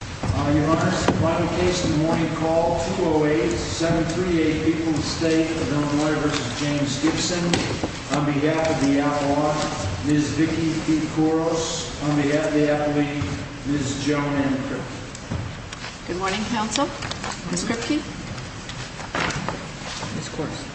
Your Honor, this is the final case of the morning call, 208-738, people in the state of Illinois v. James Gibson. On behalf of the outlaw, Ms. Vicki P. Kouros. On behalf of the athlete, Ms. Joan M. Kripke. Good morning, counsel. Ms. Kripke. Ms. Kouros.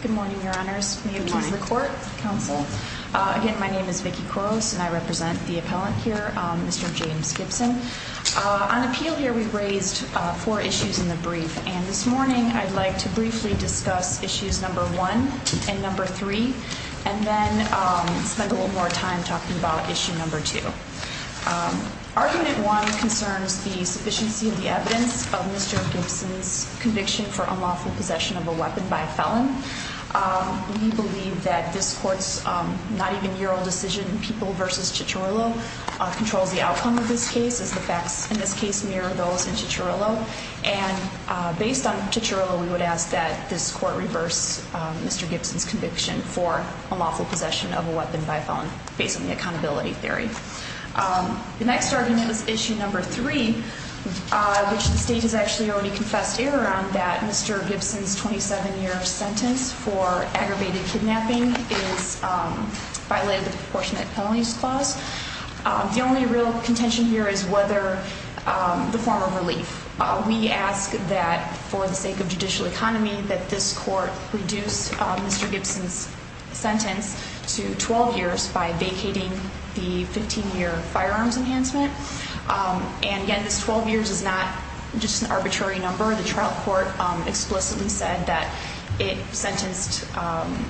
Good morning, your honors. May it please the court. Counsel. Again, my name is Vicki Kouros, and I represent the appellant here, Mr. James Gibson. On appeal here, we raised four issues in the brief, and this morning I'd like to briefly discuss issues number one and number three. And then spend a little more time talking about issue number two. Argument one concerns the sufficiency of the evidence of Mr. Gibson's conviction for unlawful possession of a weapon by a felon. We believe that this court's not even year old decision, people v. Cicciarillo, controls the outcome of this case, as the facts in this case mirror those in Cicciarillo. And based on Cicciarillo, we would ask that this court reverse Mr. Gibson's conviction for unlawful possession of a weapon by a felon, based on the accountability theory. The next argument is issue number three, which the state has actually already confessed error on, that Mr. Gibson's 27-year sentence for aggravated kidnapping is violated with a proportionate penalties clause. The only real contention here is whether the form of relief. We ask that for the sake of judicial economy, that this court reduce Mr. Gibson's sentence to 12 years by vacating the 15-year firearms enhancement. And again, this 12 years is not just an arbitrary number. The trial court explicitly said that it sentenced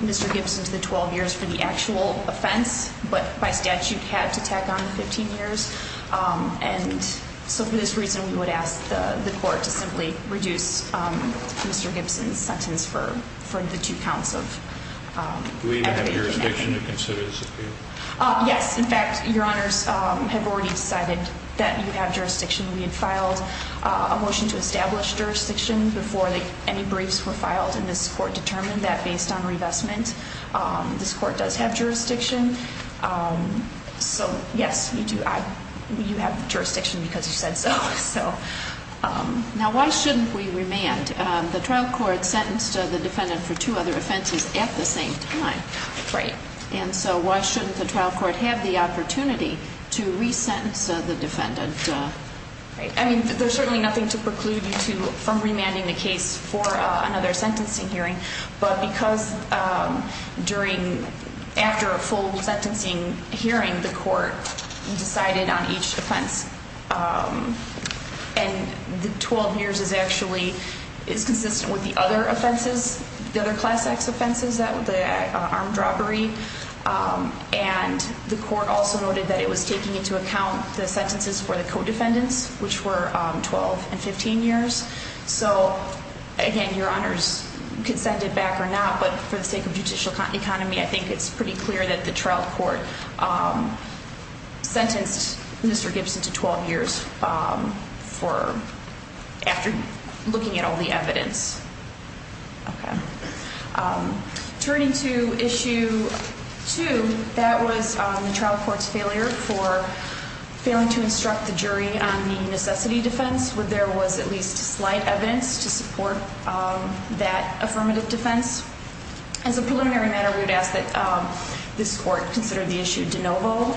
Mr. Gibson to the 12 years for the actual offense, but by statute had to tack on the 15 years. And so for this reason, we would ask the court to simply reduce Mr. Gibson's sentence for the two counts of aggravated kidnapping. Do we even have jurisdiction to consider this appeal? Yes, in fact, your honors have already decided that you have jurisdiction. We had filed a motion to establish jurisdiction before any briefs were filed, and this court determined that based on revestment, this court does have jurisdiction. So yes, you do. You have jurisdiction because you said so. So now why shouldn't we remand? The trial court sentenced the defendant for two other offenses at the same time. Right. And so why shouldn't the trial court have the opportunity to resentence the defendant? Right. I mean, there's certainly nothing to preclude you from remanding the case for another sentencing hearing, but because during, after a full sentencing hearing, the court decided on each offense. And the 12 years is actually, is consistent with the other offenses, the other class acts offenses, the armed robbery. And the court also noted that it was taking into account the sentences for the co-defendants, which were 12 and 15 years. So again, your honors can send it back or not, but for the sake of judicial economy, I think it's pretty clear that the trial court sentenced Mr. Gibson to 12 years for, after looking at all the evidence. Turning to issue two, that was the trial court's failure for failing to instruct the jury on the necessity defense, where there was at least slight evidence to support that affirmative defense. As a preliminary matter, we would ask that this court consider the issue de novo.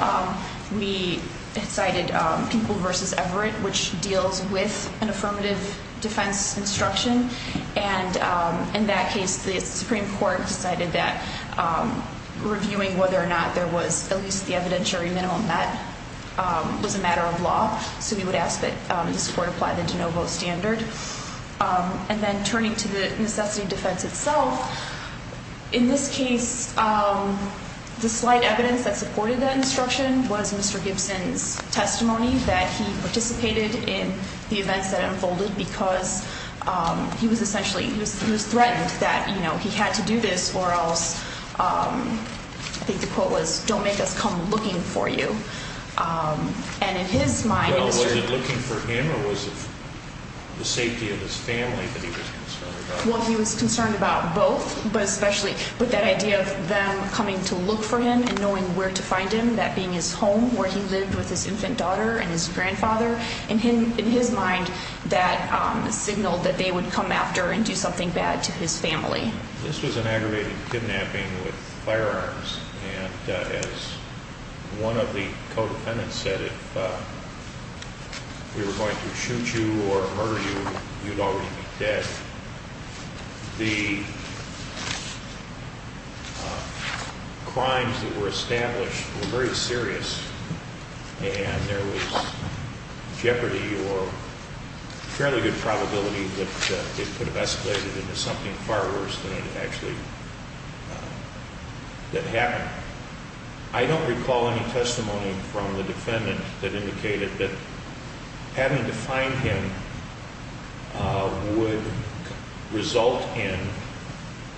We cited Pingel v. Everett, which deals with an affirmative defense instruction. And in that case, the Supreme Court decided that reviewing whether or not there was at least the evidentiary minimum, that was a matter of law. So we would ask that this court apply the de novo standard. And then turning to the necessity defense itself, in this case, the slight evidence that supported that instruction was Mr. Gibson's testimony that he participated in the events that unfolded because he was essentially, he was threatened that he had to do this or else, I think the quote was, don't make us come looking for you. And in his mind- Was it looking for him or was it the safety of his family that he was concerned about? Well, he was concerned about both, but especially with that idea of them coming to look for him and knowing where to find him, that being his home where he lived with his infant daughter and his grandfather. In his mind, that signaled that they would come after and do something bad to his family. This was an aggravated kidnapping with firearms, and as one of the co-defendants said, if we were going to shoot you or murder you, you'd already be dead. The crimes that were established were very serious, and there was jeopardy or fairly good probability that it could have escalated into something far worse than it actually, that happened. I don't recall any testimony from the defendant that indicated that having to find him would result in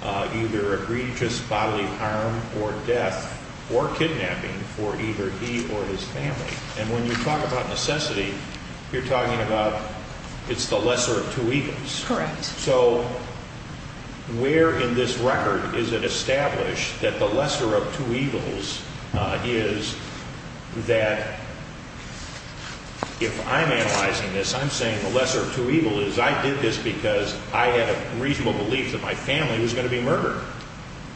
either egregious bodily harm or death or kidnapping for either he or his family. And when you talk about necessity, you're talking about it's the lesser of two evils. Correct. So where in this record is it established that the lesser of two evils is that if I'm analyzing this, I'm saying the lesser of two evils is I did this because I had a reasonable belief that my family was going to be murdered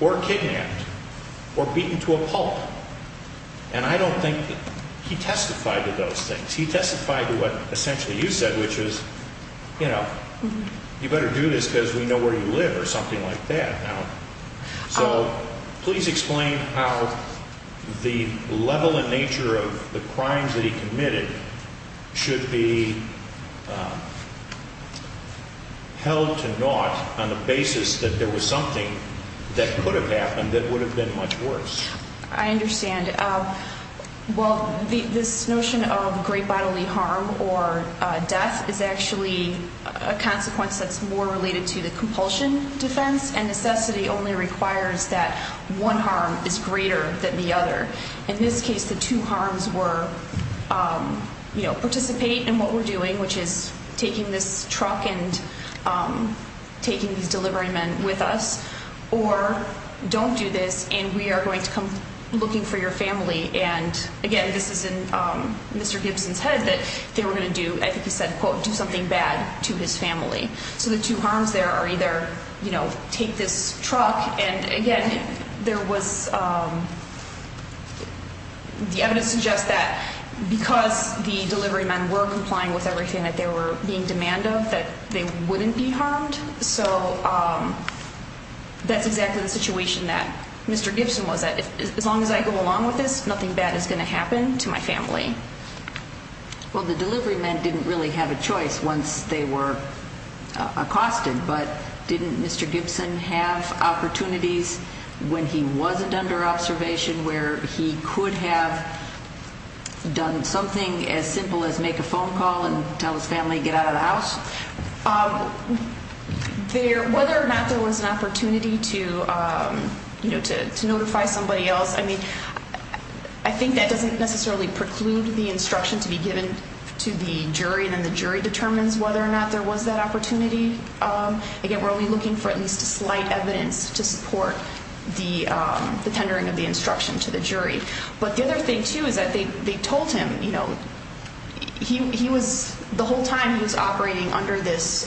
or kidnapped or beaten to a pulp. And I don't think he testified to those things. He testified to what essentially you said, which is, you know, you better do this because we know where you live or something like that. So please explain how the level and nature of the crimes that he committed should be held to naught on the basis that there was something that could have happened that would have been much worse. I understand. Well, this notion of great bodily harm or death is actually a consequence that's more related to the compulsion defense. And necessity only requires that one harm is greater than the other. In this case, the two harms were, you know, participate in what we're doing, which is taking this truck and taking these delivery men with us, or don't do this and we are going to come looking for your family. And again, this is in Mr. Gibson's head that they were going to do, I think he said, quote, do something bad to his family. So the two harms there are either, you know, take this truck. And again, there was the evidence suggests that because the delivery men were complying with everything that they were being demand of, that they wouldn't be harmed. So that's exactly the situation that Mr. Gibson was at. As long as I go along with this, nothing bad is going to happen to my family. Well, the delivery men didn't really have a choice once they were accosted. But didn't Mr. Gibson have opportunities when he wasn't under observation where he could have done something as simple as make a phone call and tell his family to get out of the house? Whether or not there was an opportunity to notify somebody else, I mean, I think that doesn't necessarily preclude the instruction to be given to the jury. And then the jury determines whether or not there was that opportunity. Again, we're only looking for at least a slight evidence to support the tendering of the instruction to the jury. But the other thing, too, is that they told him, you know, he was the whole time he was operating under this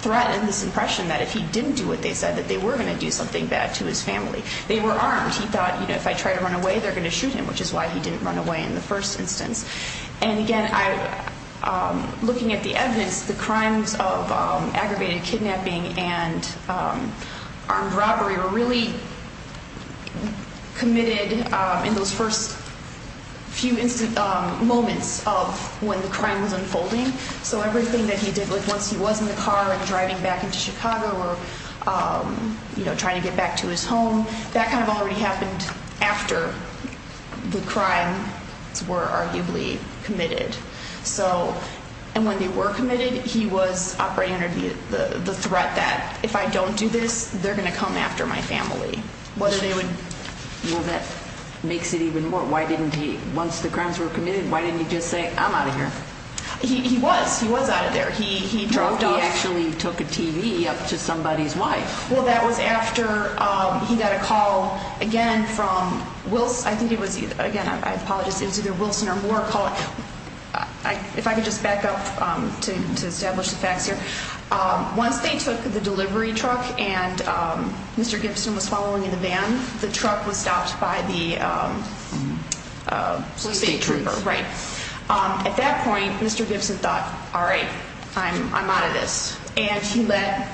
threat and this impression that if he didn't do what they said, that they were going to do something bad to his family. They were armed. He thought, you know, if I try to run away, they're going to shoot him, which is why he didn't run away in the first instance. And again, looking at the evidence, the crimes of aggravated kidnapping and armed robbery were really committed in those first few moments of when the crime was unfolding. So everything that he did, like once he was in the car and driving back into Chicago or, you know, trying to get back to his home, that kind of already happened after the crimes were arguably committed. So – and when they were committed, he was operating under the threat that if I don't do this, they're going to come after my family, whether they would – Well, that makes it even more – why didn't he – once the crimes were committed, why didn't he just say, I'm out of here? He was. He was out of there. He dropped off – No, he actually took a TV up to somebody's wife. Well, that was after he got a call, again, from Wilson – I think it was – again, I apologize. It was either Wilson or Moore calling – if I could just back up to establish the facts here. Once they took the delivery truck and Mr. Gibson was following in the van, the truck was stopped by the – State trooper. State trooper, right. At that point, Mr. Gibson thought, all right, I'm out of this. And he let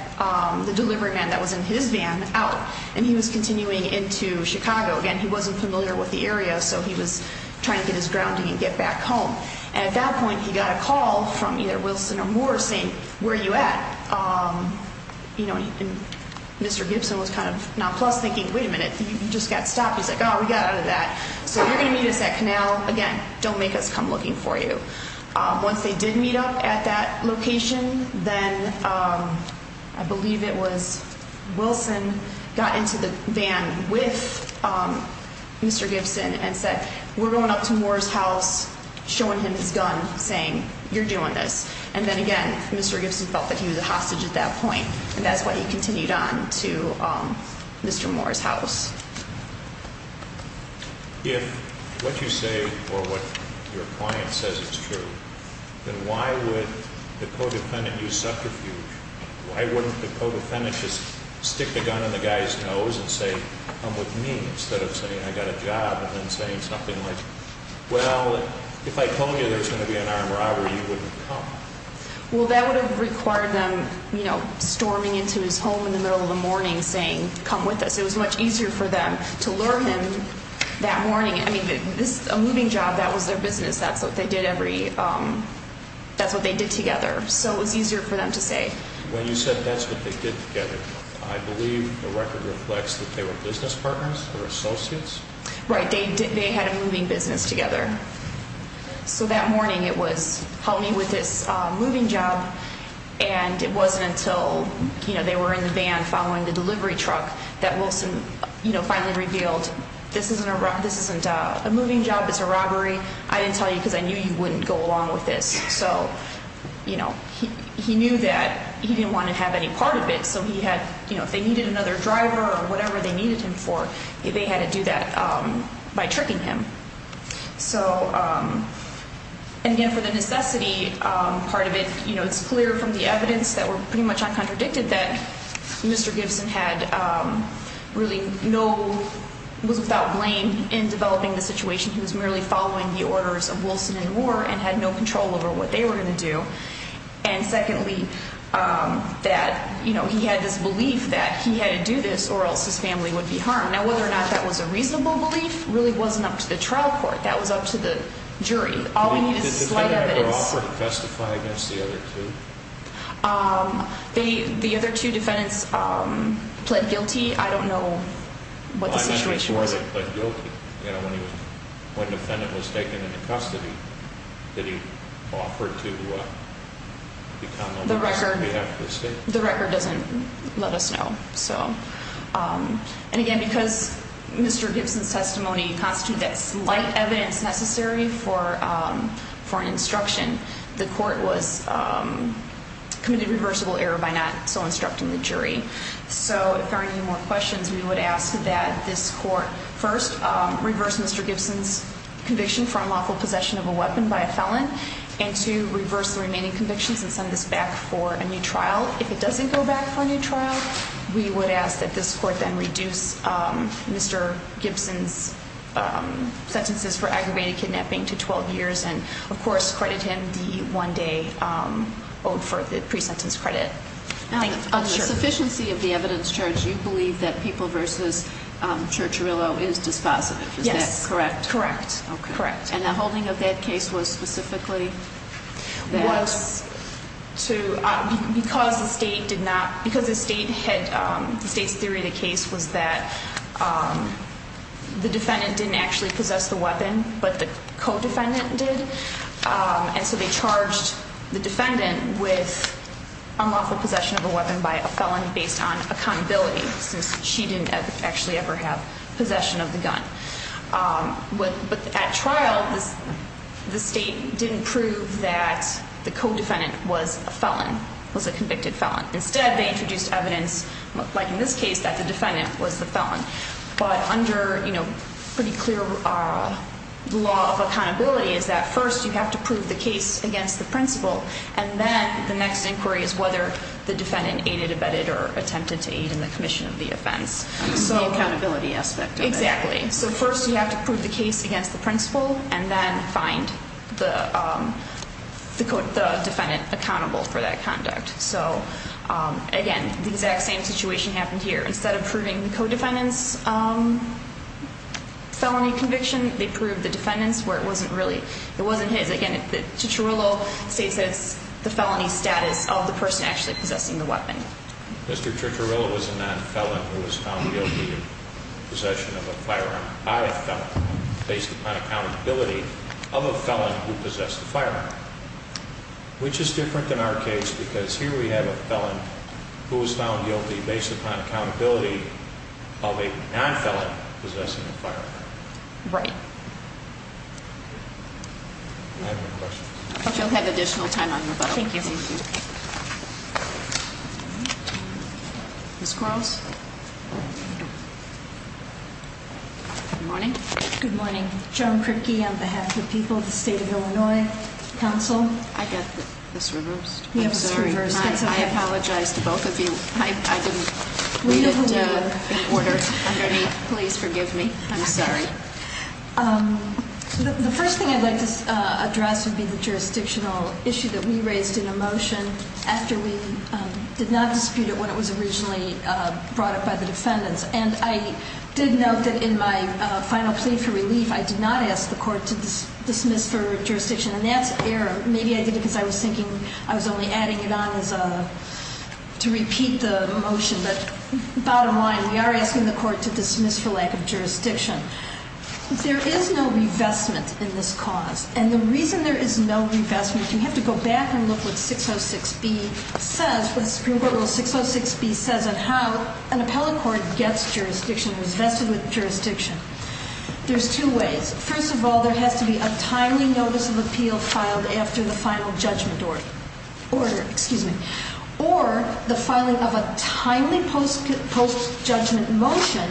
the delivery man that was in his van out, and he was continuing into Chicago. Again, he wasn't familiar with the area, so he was trying to get his grounding and get back home. And at that point, he got a call from either Wilson or Moore saying, where are you at? You know, and Mr. Gibson was kind of nonplussed, thinking, wait a minute, you just got stopped. He's like, oh, we got out of that. So you're going to meet us at Canal. Again, don't make us come looking for you. Once they did meet up at that location, then I believe it was Wilson got into the van with Mr. Gibson and said, we're going up to Moore's house, showing him his gun, saying, you're doing this. And then, again, Mr. Gibson felt that he was a hostage at that point. And that's why he continued on to Mr. Moore's house. If what you say or what your client says is true, then why would the codependent use subterfuge? Why wouldn't the codependent just stick the gun in the guy's nose and say, come with me, instead of saying, I got a job, and then saying something like, well, if I told you there was going to be an armed robbery, you wouldn't come? Well, that would have required them, you know, storming into his home in the middle of the morning saying, come with us. It was much easier for them to lure him that morning. I mean, this is a moving job. That was their business. That's what they did every – that's what they did together. So it was easier for them to say. When you said that's what they did together, I believe the record reflects that they were business partners or associates? Right. They had a moving business together. So that morning it was, help me with this moving job. And it wasn't until, you know, they were in the van following the delivery truck that Wilson, you know, finally revealed this isn't a moving job, it's a robbery. I didn't tell you because I knew you wouldn't go along with this. So, you know, he knew that he didn't want to have any part of it. So he had, you know, if they needed another driver or whatever they needed him for, they had to do that by tricking him. So, and again for the necessity part of it, you know, it's clear from the evidence that were pretty much uncontradicted that Mr. Gibson had really no – was without blame in developing the situation. He was merely following the orders of Wilson and Moore and had no control over what they were going to do. And secondly, that, you know, he had this belief that he had to do this or else his family would be harmed. Now, whether or not that was a reasonable belief really wasn't up to the trial court. That was up to the jury. All you need is slight evidence. Did the defendant ever offer to testify against the other two? The other two defendants pled guilty. I don't know what the situation was. Why didn't the fourth one pled guilty? You know, when the defendant was taken into custody, did he offer to become a witness on behalf of the state? The record doesn't let us know. And again, because Mr. Gibson's testimony constituted that slight evidence necessary for an instruction, the court was – committed a reversible error by not so instructing the jury. So, if there are any more questions, we would ask that this court first reverse Mr. Gibson's conviction for unlawful possession of a weapon by a felon and to reverse the remaining convictions and send this back for a new trial. If it doesn't go back for a new trial, we would ask that this court then reduce Mr. Gibson's sentences for aggravated kidnapping to 12 years and, of course, credit him the one-day oath for the pre-sentence credit. On the sufficiency of the evidence charge, you believe that People v. Churcherillo is dispositive. Yes. Is that correct? Correct. And the holding of that case was specifically that? Because the state did not – because the state had – the state's theory of the case was that the defendant didn't actually possess the weapon, but the co-defendant did, and so they charged the defendant with unlawful possession of a weapon by a felon based on accountability since she didn't actually ever have possession of the gun. But at trial, the state didn't prove that the co-defendant was a felon, was a convicted felon. Instead, they introduced evidence, like in this case, that the defendant was the felon. But under pretty clear law of accountability is that first you have to prove the case against the principle, and then the next inquiry is whether the defendant aided, abetted, or attempted to aid in the commission of the offense. So accountability aspect of it. Exactly. So first you have to prove the case against the principle, and then find the defendant accountable for that conduct. So, again, the exact same situation happened here. Instead of proving the co-defendant's felony conviction, they proved the defendant's where it wasn't really – it wasn't his. Again, Churcherillo states that it's the felony status of the person actually possessing the weapon. Mr. Churcherillo was a non-felon who was found guilty of possession of a firearm by a felon based upon accountability of a felon who possessed a firearm, which is different than our case because here we have a felon who was found guilty based upon accountability of a non-felon possessing a firearm. Right. I have no questions. Thank you. Ms. Quarles? Good morning. Good morning. Joan Kripke on behalf of the people of the State of Illinois Council. I got this reversed. I'm sorry. I apologize to both of you. I didn't read it in order underneath. Please forgive me. I'm sorry. The first thing I'd like to address would be the jurisdictional issue that we raised in a motion after we did not dispute it when it was originally brought up by the defendants. And I did note that in my final plea for relief, I did not ask the court to dismiss for jurisdiction. And that's error. Maybe I did it because I was thinking I was only adding it on to repeat the motion. But bottom line, we are asking the court to dismiss for lack of jurisdiction. There is no revestment in this cause. And the reason there is no revestment, you have to go back and look what 606B says, what the Supreme Court Rule 606B says on how an appellate court gets jurisdiction, is vested with jurisdiction. There's two ways. First of all, there has to be a timely notice of appeal filed after the final judgment order. Excuse me. Or the filing of a timely post-judgment motion.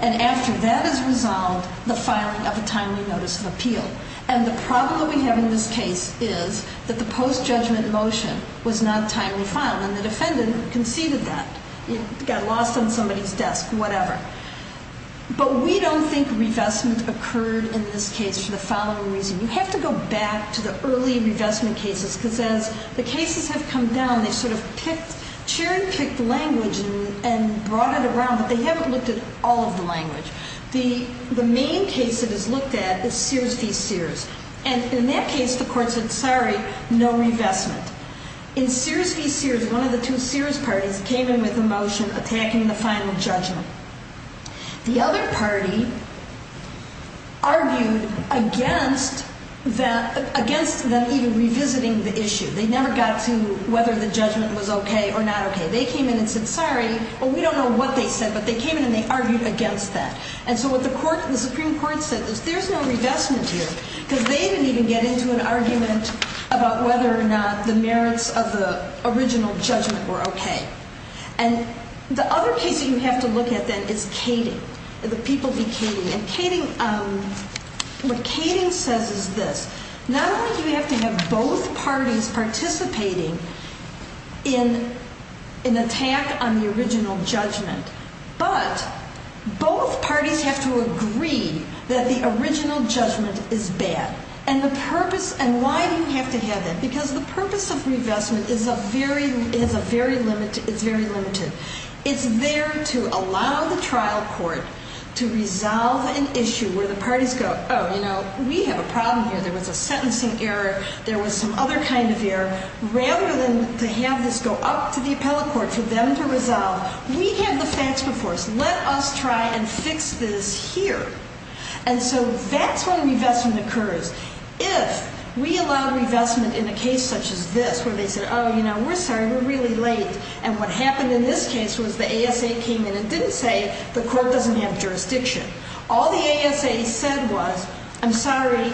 And after that is resolved, the filing of a timely notice of appeal. And the problem that we have in this case is that the post-judgment motion was not timely filed. And the defendant conceded that. It got lost on somebody's desk, whatever. But we don't think revestment occurred in this case for the following reason. You have to go back to the early revestment cases, because as the cases have come down, they've sort of picked – Cherin picked language and brought it around, but they haven't looked at all of the language. The main case that is looked at is Sears v. Sears. And in that case, the court said, sorry, no revestment. In Sears v. Sears, one of the two Sears parties came in with a motion attacking the final judgment. The other party argued against them even revisiting the issue. They never got to whether the judgment was okay or not okay. They came in and said, sorry, but we don't know what they said. But they came in and they argued against that. And so what the Supreme Court said is there's no revestment here, because they didn't even get into an argument about whether or not the merits of the original judgment were okay. And the other case that you have to look at, then, is Kading. The people v. Kading. And what Kading says is this. Not only do you have to have both parties participating in an attack on the original judgment, but both parties have to agree that the original judgment is bad. And the purpose – and why do you have to have that? Because the purpose of revestment is very limited. It's there to allow the trial court to resolve an issue where the parties go, oh, you know, we have a problem here. There was a sentencing error. There was some other kind of error. Rather than to have this go up to the appellate court for them to resolve, we have the facts before us. Let us try and fix this here. And so that's when revestment occurs. If we allow revestment in a case such as this where they said, oh, you know, we're sorry, we're really late. And what happened in this case was the ASA came in and didn't say the court doesn't have jurisdiction. All the ASA said was, I'm sorry,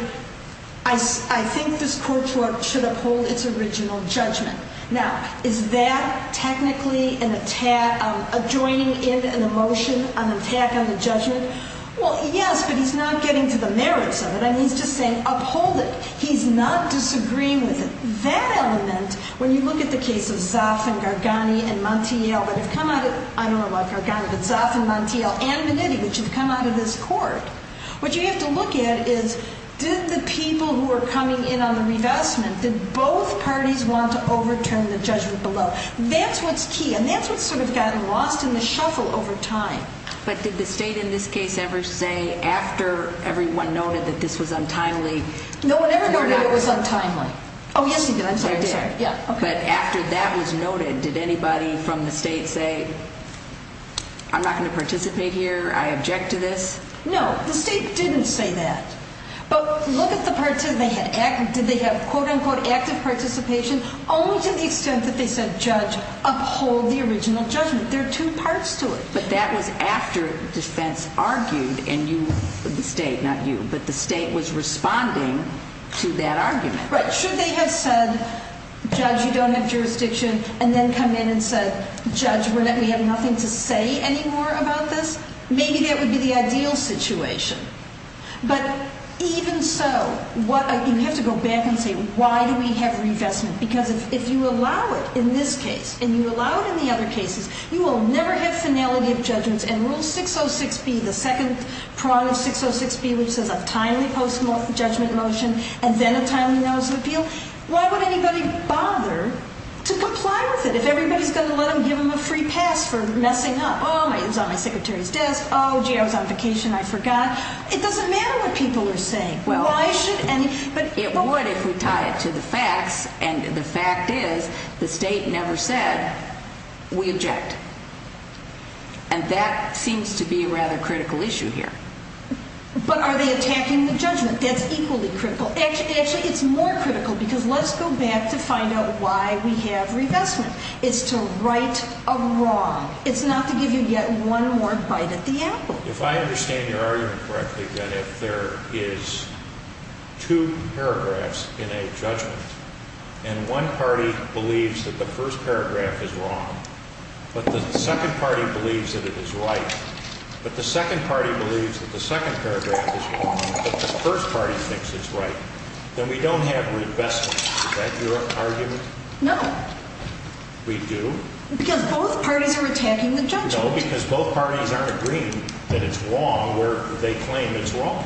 I think this court should uphold its original judgment. Now, is that technically an attack, adjoining in an emotion, an attack on the judgment? Well, yes, but he's not getting to the merits of it, and he's just saying uphold it. He's not disagreeing with it. That element, when you look at the case of Zoff and Gargani and Montiel that have come out of, I don't know about Gargani, but Zoff and Montiel and Menitti, which have come out of this court, what you have to look at is, did the people who are coming in on the revestment, did both parties want to overturn the judgment below? That's what's key, and that's what's sort of gotten lost in the shuffle over time. But did the state in this case ever say after everyone noted that this was untimely? No one ever noted it was untimely. Oh, yes, you did. I'm sorry, I'm sorry. They did. Yeah, okay. But after that was noted, did anybody from the state say, I'm not going to participate here, I object to this? No, the state didn't say that. But look at the part, did they have, quote, unquote, active participation, only to the extent that they said judge, uphold the original judgment. There are two parts to it. But that was after defense argued, and you, the state, not you, but the state was responding to that argument. Right, should they have said, judge, you don't have jurisdiction, and then come in and said, judge, we have nothing to say anymore about this? Maybe that would be the ideal situation. But even so, you have to go back and say, why do we have revestment? Because if you allow it in this case and you allow it in the other cases, you will never have finality of judgments, and Rule 606B, the second prong of 606B, which says a timely post-judgment motion and then a timely notice of appeal, why would anybody bother to comply with it? If everybody's going to let them give them a free pass for messing up. Oh, it was on my secretary's desk. Oh, gee, I was on vacation, I forgot. It doesn't matter what people are saying. Why should anybody? It would if we tie it to the facts, and the fact is the state never said, we object. And that seems to be a rather critical issue here. But are they attacking the judgment? That's equally critical. Actually, it's more critical because let's go back to find out why we have revestment. It's to right a wrong. It's not to give you yet one more bite at the apple. If I understand your argument correctly, that if there is two paragraphs in a judgment and one party believes that the first paragraph is wrong, but the second party believes that it is right, but the second party believes that the second paragraph is wrong, but the first party thinks it's right, then we don't have revestment. Is that your argument? No. We do? Because both parties are attacking the judgment. No, because both parties aren't agreeing that it's wrong where they claim it's wrong.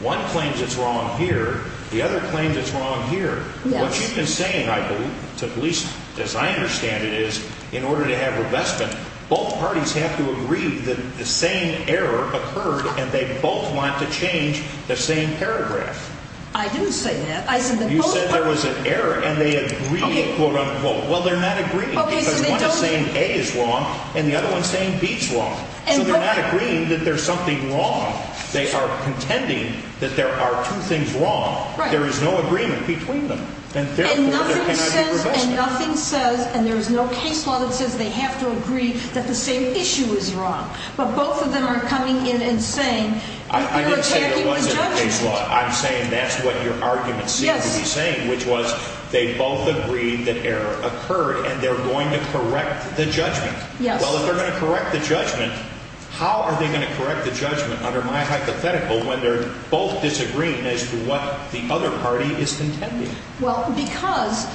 One claims it's wrong here. The other claims it's wrong here. What you've been saying, I believe, at least as I understand it, is in order to have revestment, both parties have to agree that the same error occurred and they both want to change the same paragraph. I didn't say that. You said there was an error and they agree, quote, unquote. Well, they're not agreeing because one is saying A is wrong and the other one is saying B is wrong. So they're not agreeing that there's something wrong. They are contending that there are two things wrong. There is no agreement between them, and therefore there cannot be revestment. And nothing says, and there is no case law that says they have to agree that the same issue is wrong. But both of them are coming in and saying you're attacking the judgment. I didn't say there wasn't a case law. I'm saying that's what your argument seems to be saying, which was they both agreed that error occurred and they're going to correct the judgment. Yes. Well, if they're going to correct the judgment, how are they going to correct the judgment, under my hypothetical, when they're both disagreeing as to what the other party is contending? Well, because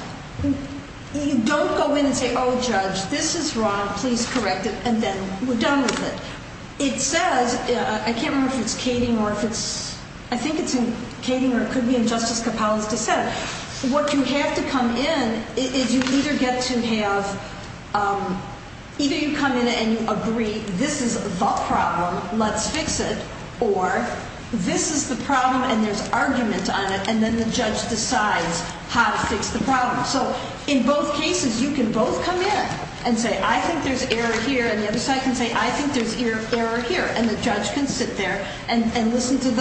you don't go in and say, oh, Judge, this is wrong, please correct it, and then we're done with it. It says, I can't remember if it's Kading or if it's, I think it's in Kading or it could be in Justice Kapala's dissent. What you have to come in is you either get to have, either you come in and you agree this is the problem, let's fix it, or this is the problem and there's argument on it and then the judge decides how to fix the problem. So in both cases, you can both come in and say, I think there's error here. And the other side can say, I think there's error here. And the judge can sit there and listen to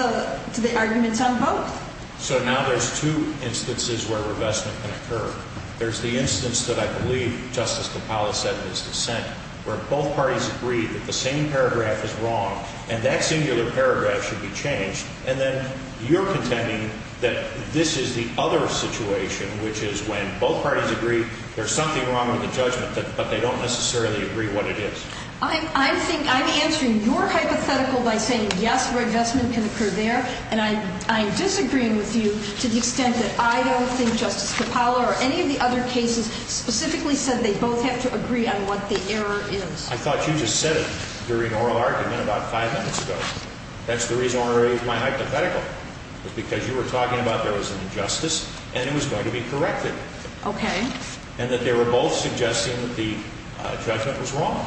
the arguments on both. So now there's two instances where revestment can occur. There's the instance that I believe Justice Kapala said in his dissent, where both parties agree that the same paragraph is wrong and that singular paragraph should be changed. And then you're contending that this is the other situation, which is when both parties agree there's something wrong with the judgment, but they don't necessarily agree what it is. I think I'm answering your hypothetical by saying, yes, revestment can occur there, and I'm disagreeing with you to the extent that I don't think Justice Kapala or any of the other cases specifically said they both have to agree on what the error is. I thought you just said it during oral argument about five minutes ago. That's the reason I raised my hypothetical, was because you were talking about there was an injustice and it was going to be corrected. Okay. And that they were both suggesting that the judgment was wrong.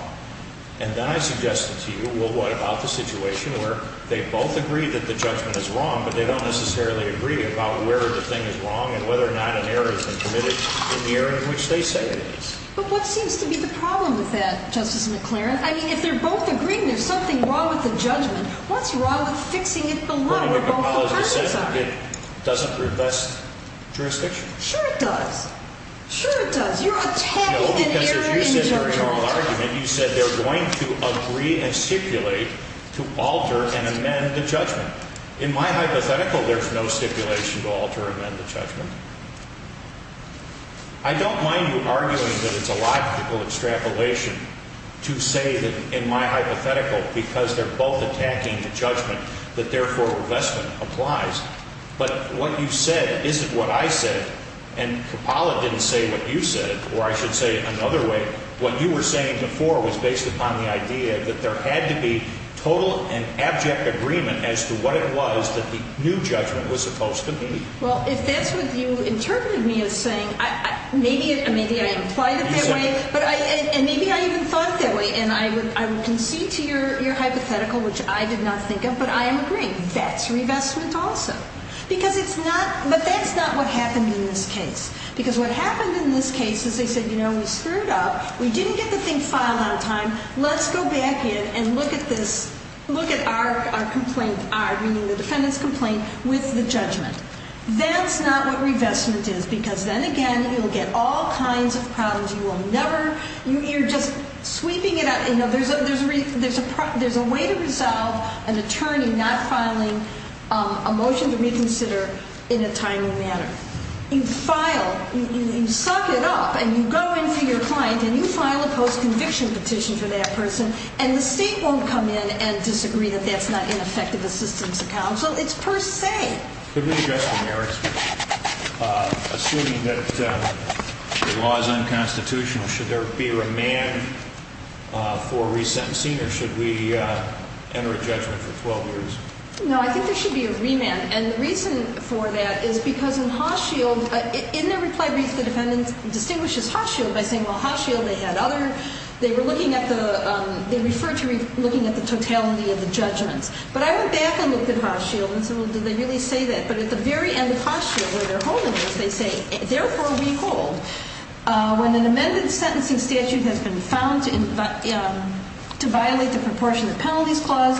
And then I suggested to you, well, what about the situation where they both agree that the judgment is wrong, but they don't necessarily agree about where the thing is wrong and whether or not an error has been committed in the area in which they say it is. But what seems to be the problem with that, Justice McClaren? I mean, if they're both agreeing there's something wrong with the judgment, what's wrong with fixing it below where both opponents are? Well, I think what Kapala said, it doesn't revest jurisdiction. Sure it does. Sure it does. You're attacking an error in the judgment. No, because as you said in your oral argument, you said they're going to agree and stipulate to alter and amend the judgment. In my hypothetical, there's no stipulation to alter and amend the judgment. I don't mind you arguing that it's a logical extrapolation to say that in my hypothetical, because they're both attacking the judgment, that therefore revestment applies. But what you said isn't what I said, and Kapala didn't say what you said, or I should say it another way. What you were saying before was based upon the idea that there had to be total and abject agreement as to what it was that the new judgment was supposed to be. Well, if that's what you interpreted me as saying, maybe I implied it that way, and maybe I even thought that way, and I would concede to your hypothetical, which I did not think of, but I am agreeing. That's revestment also. Because it's not – but that's not what happened in this case. Because what happened in this case is they said, you know, we screwed up, we didn't get the thing filed on time, let's go back in and look at this – look at our complaint, our – meaning the defendant's complaint with the judgment. That's not what revestment is, because then, again, you'll get all kinds of problems. You will never – you're just sweeping it out. You know, there's a way to resolve an attorney not filing a motion to reconsider in a timely manner. You file – you suck it up, and you go in for your client, and you file a post-conviction petition for that person, and the state won't come in and disagree that that's not an effective assistance to counsel. It's per se. Could we adjust the merits, assuming that the law is unconstitutional? Should there be a remand for a resentencing, or should we enter a judgment for 12 years? No, I think there should be a remand. And the reason for that is because in Hochschild – in their reply brief, the defendant distinguishes Hochschild by saying, well, Hochschild, they had other – they were looking at the – they referred to looking at the totality of the judgments. But I went back and looked at Hochschild and said, well, did they really say that? But at the very end of Hochschild, where they're holding this, they say, therefore, we hold. When an amended sentencing statute has been found to violate the proportion of penalties clause,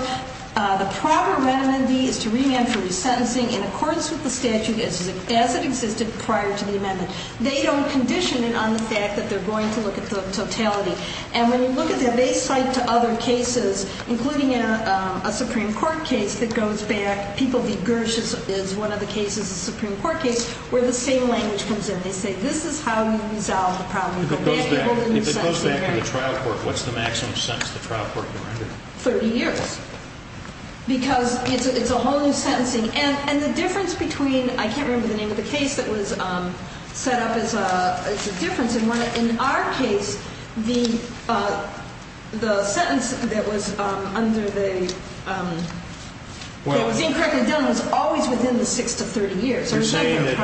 the proper remedy is to remand for resentencing in accordance with the statute as it existed prior to the amendment. They don't condition it on the fact that they're going to look at the totality. And when you look at that, they cite to other cases, including a Supreme Court case that goes back – People v. Gersh is one of the cases, a Supreme Court case, where the same language comes in. They say, this is how we resolve the problem. If it goes back to the trial court, what's the maximum sentence the trial court can render? 30 years, because it's a whole new sentencing. And the difference between – I can't remember the name of the case that was set up as a difference. And in our case, the sentence that was under the – that was incorrectly done was always within the 6 to 30 years. You're saying that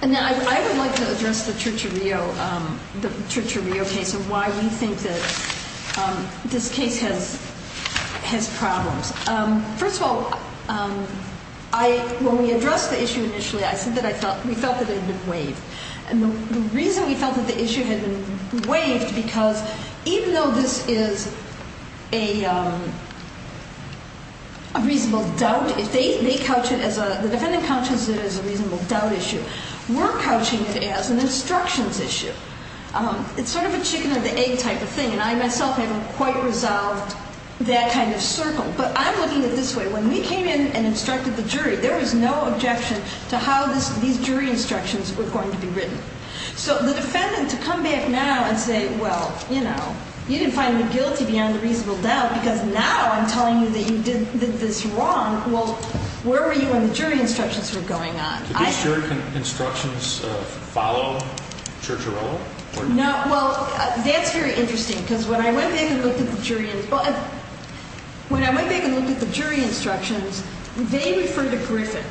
– And I would like to address the Church of Rio case and why we think that this case has problems. First of all, when we addressed the issue initially, I said that we felt that it had been waived. And the reason we felt that the issue had been waived, because even though this is a reasonable doubt, if they couch it as a – the defendant couches it as a reasonable doubt issue, we're couching it as an instructions issue. It's sort of a chicken-or-the-egg type of thing, and I myself haven't quite resolved that kind of circle. But I'm looking at it this way. When we came in and instructed the jury, there was no objection to how these jury instructions were going to be written. So the defendant, to come back now and say, well, you know, you didn't find me guilty beyond a reasonable doubt, because now I'm telling you that you did this wrong. Well, where were you when the jury instructions were going on? Did these jury instructions follow Church of Rio? No. Well, that's very interesting, because when I went back and looked at the jury instructions, they refer to Griffin.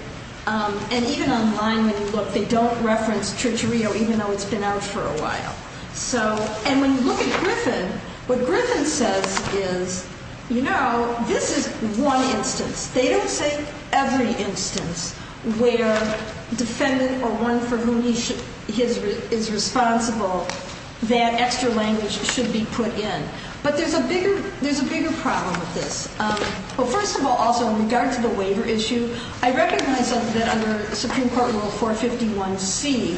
And even online, when you look, they don't reference Church of Rio, even though it's been out for a while. And when you look at Griffin, what Griffin says is, you know, this is one instance. They don't say every instance where defendant or one for whom he is responsible, that extra language should be put in. But there's a bigger problem with this. Well, first of all, also in regard to the waiver issue, I recognize that under Supreme Court Rule 451C,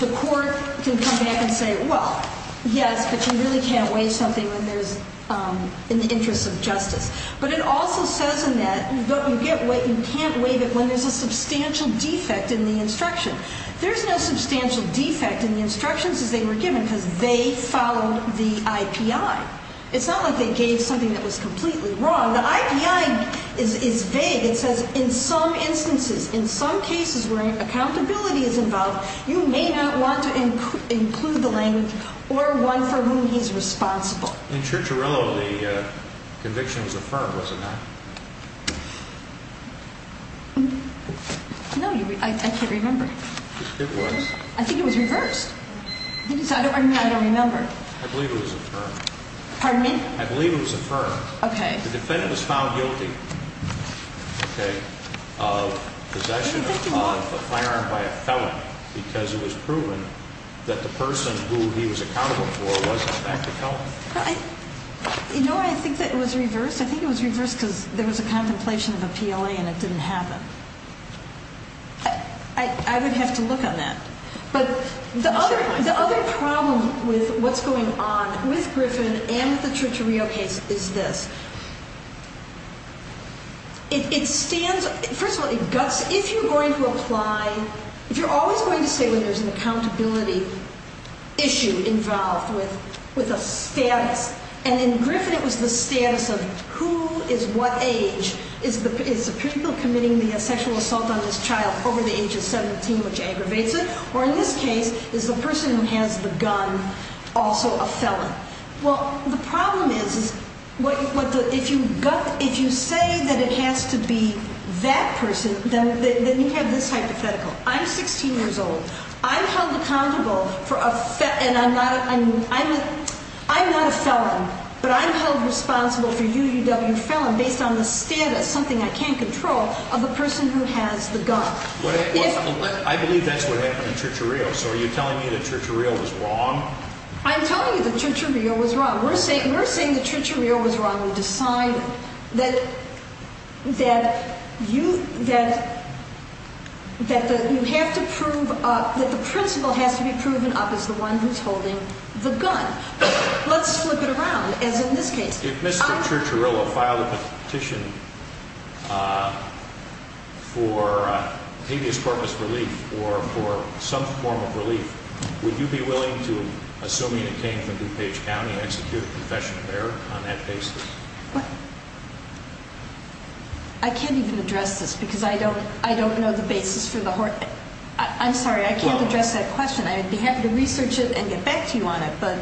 the court can come back and say, well, yes, but you really can't waive something when there's an interest of justice. But it also says in that, you can't waive it when there's a substantial defect in the instruction. There's no substantial defect in the instructions as they were given, because they followed the IPI. It's not like they gave something that was completely wrong. The IPI is vague. It says in some instances, in some cases where accountability is involved, you may not want to include the language or one for whom he's responsible. In Church of Rio, the conviction was affirmed, was it not? No, I can't remember. It was. I think it was reversed. I don't remember. I believe it was affirmed. Pardon me? I believe it was affirmed. Okay. The defendant was found guilty of possession of a firearm by a felon, because it was proven that the person who he was accountable for was in fact a felon. You know, I think that it was reversed. I think it was reversed because there was a contemplation of a PLA and it didn't happen. I would have to look on that. The other problem with what's going on with Griffin and with the Church of Rio case is this. It stands, first of all, if you're going to apply, if you're always going to say when there's an accountability issue involved with a status, and in Griffin it was the status of who is what age, is the person committing the sexual assault on this child over the age of 17, which aggravates it, or in this case is the person who has the gun also a felon? Well, the problem is if you say that it has to be that person, then you have this hypothetical. I'm 16 years old. I'm held accountable for a felon, and I'm not a felon, but I'm held responsible for UUW felon based on the status, something I can't control, of the person who has the gun. I believe that's what happened in Church of Rio, so are you telling me that Church of Rio was wrong? I'm telling you that Church of Rio was wrong. We're saying that Church of Rio was wrong. We decide that you have to prove that the principal has to be proven up as the one who's holding the gun. Let's flip it around, as in this case. If Mr. Church of Rio filed a petition for habeas corpus relief or for some form of relief, would you be willing to, assuming it came from DuPage County, execute a confession of error on that basis? I can't even address this because I don't know the basis for the horror. I'm sorry. I can't address that question. I'd be happy to research it and get back to you on it, but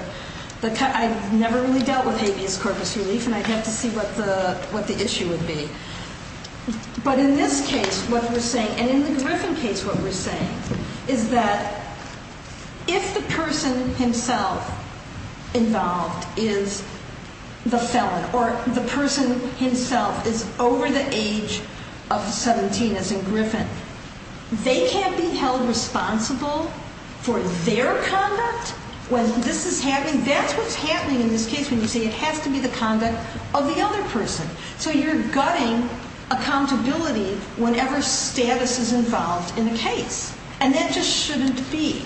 I've never really dealt with habeas corpus relief, and I'd have to see what the issue would be. But in this case, what we're saying, and in the Griffin case what we're saying, is that if the person himself involved is the felon or the person himself is over the age of 17, as in Griffin, they can't be held responsible for their conduct when this is happening. That's what's happening in this case when you say it has to be the conduct of the other person. So you're gutting accountability whenever status is involved in a case, and that just shouldn't be.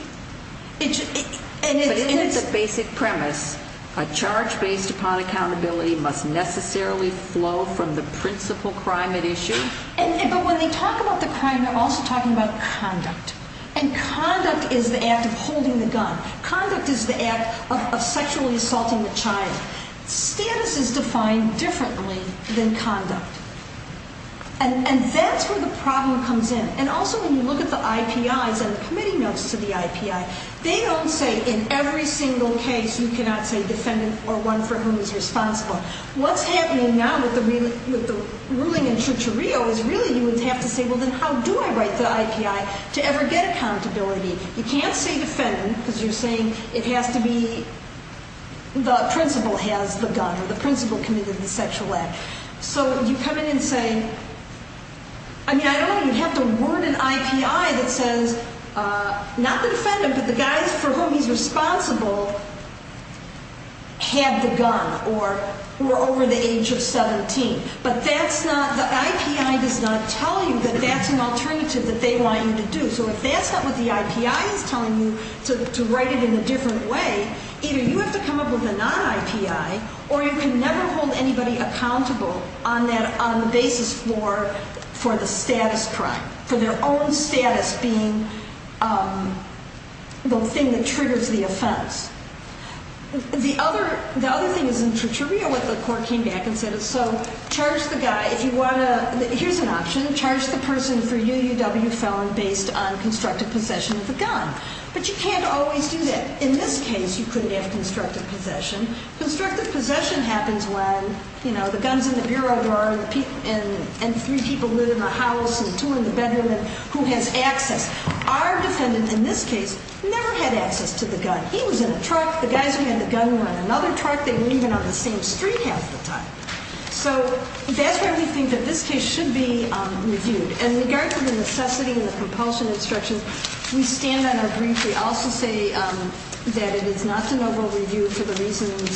But isn't it the basic premise, a charge based upon accountability must necessarily flow from the principal crime at issue? But when they talk about the crime, they're also talking about conduct, and conduct is the act of holding the gun. Conduct is the act of sexually assaulting the child. Status is defined differently than conduct, and that's where the problem comes in. And also when you look at the IPIs and the committee notes to the IPI, they don't say in every single case you cannot say defendant or one for whom is responsible. What's happening now with the ruling in Chucho Rio is really you would have to say, well, then how do I write the IPI to ever get accountability? You can't say defendant because you're saying it has to be the principal has the gun or the principal committed the sexual act. So you come in and say, I mean, I don't even have to word an IPI that says not the defendant, but the guy for whom he's responsible had the gun or were over the age of 17. But that's not the IPI does not tell you that that's an alternative that they want you to do. So if that's not what the IPI is telling you to write it in a different way, either you have to come up with a non-IPI or you can never hold anybody accountable on the basis for the status crime, for their own status being the thing that triggers the offense. The other thing is in Chucho Rio what the court came back and said is so charge the guy if you want to. Here's an option. Charge the person for UUW felon based on constructive possession of the gun. But you can't always do that. In this case, you couldn't have constructive possession. Constructive possession happens when the gun's in the bureau door and three people live in the house and two are in the bedroom and who has access. Our defendant in this case never had access to the gun. He was in a truck. The guys who had the gun were in another truck. They were even on the same street half the time. So that's why we think that this case should be reviewed. And in regard to the necessity and the compulsion instructions, we stand on our brief. We also say that it is not an overall review for the reasons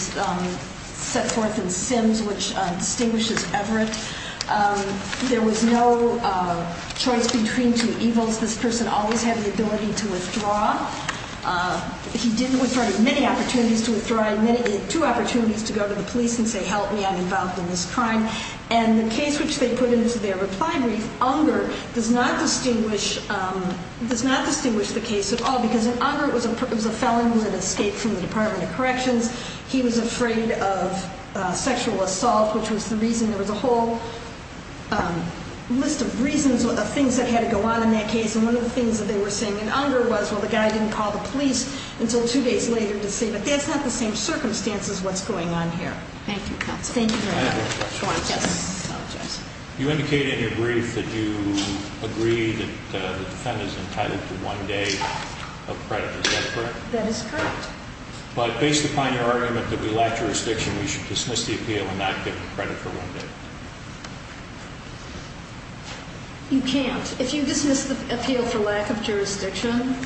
set forth in Sims, which distinguishes Everett. There was no choice between two evils. This person always had the ability to withdraw. He didn't withdraw. He had many opportunities to withdraw. He had two opportunities to go to the police and say, help me, I'm involved in this crime. And the case which they put into their reply brief, Unger, does not distinguish the case at all because in Unger it was a felon who had escaped from the Department of Corrections. He was afraid of sexual assault, which was the reason there was a whole list of reasons, of things that had to go on in that case. And one of the things that they were saying in Unger was, well, the guy didn't call the police until two days later to see. But that's not the same circumstance as what's going on here. Thank you, counsel. Thank you very much. I apologize. You indicated in your brief that you agree that the defendant is entitled to one day of credit. Is that correct? That is correct. But based upon your argument that we lack jurisdiction, we should dismiss the appeal and not get credit for one day. You can't. If you dismiss the appeal for lack of jurisdiction,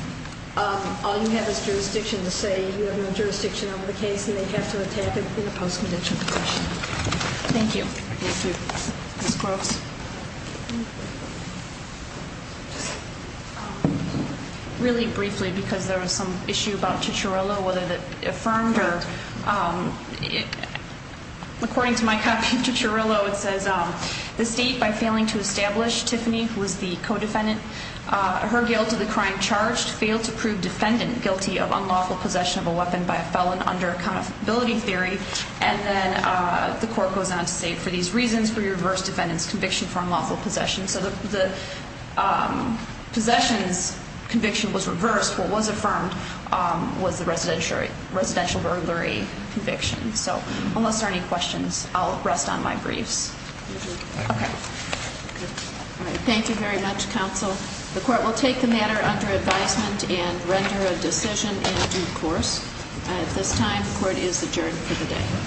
all you have is jurisdiction to say you have no jurisdiction over the case and they have to attack it in a post-medical position. Thank you. Ms. Groves. Really briefly, because there was some issue about Chicharillo, whether it affirmed or— According to my copy of Chicharillo, it says, The State, by failing to establish Tiffany, who was the co-defendant, her guilt of the crime charged, failed to prove defendant guilty of unlawful possession of a weapon by a felon under accountability theory. And then the court goes on to say, For these reasons, we reverse defendant's conviction for unlawful possession. So the possession's conviction was reversed. What was affirmed was the residential burglary conviction. So unless there are any questions, I'll rest on my briefs. Thank you very much, counsel. The court will take the matter under advisement and render a decision in due course. At this time, the court is adjourned for the day.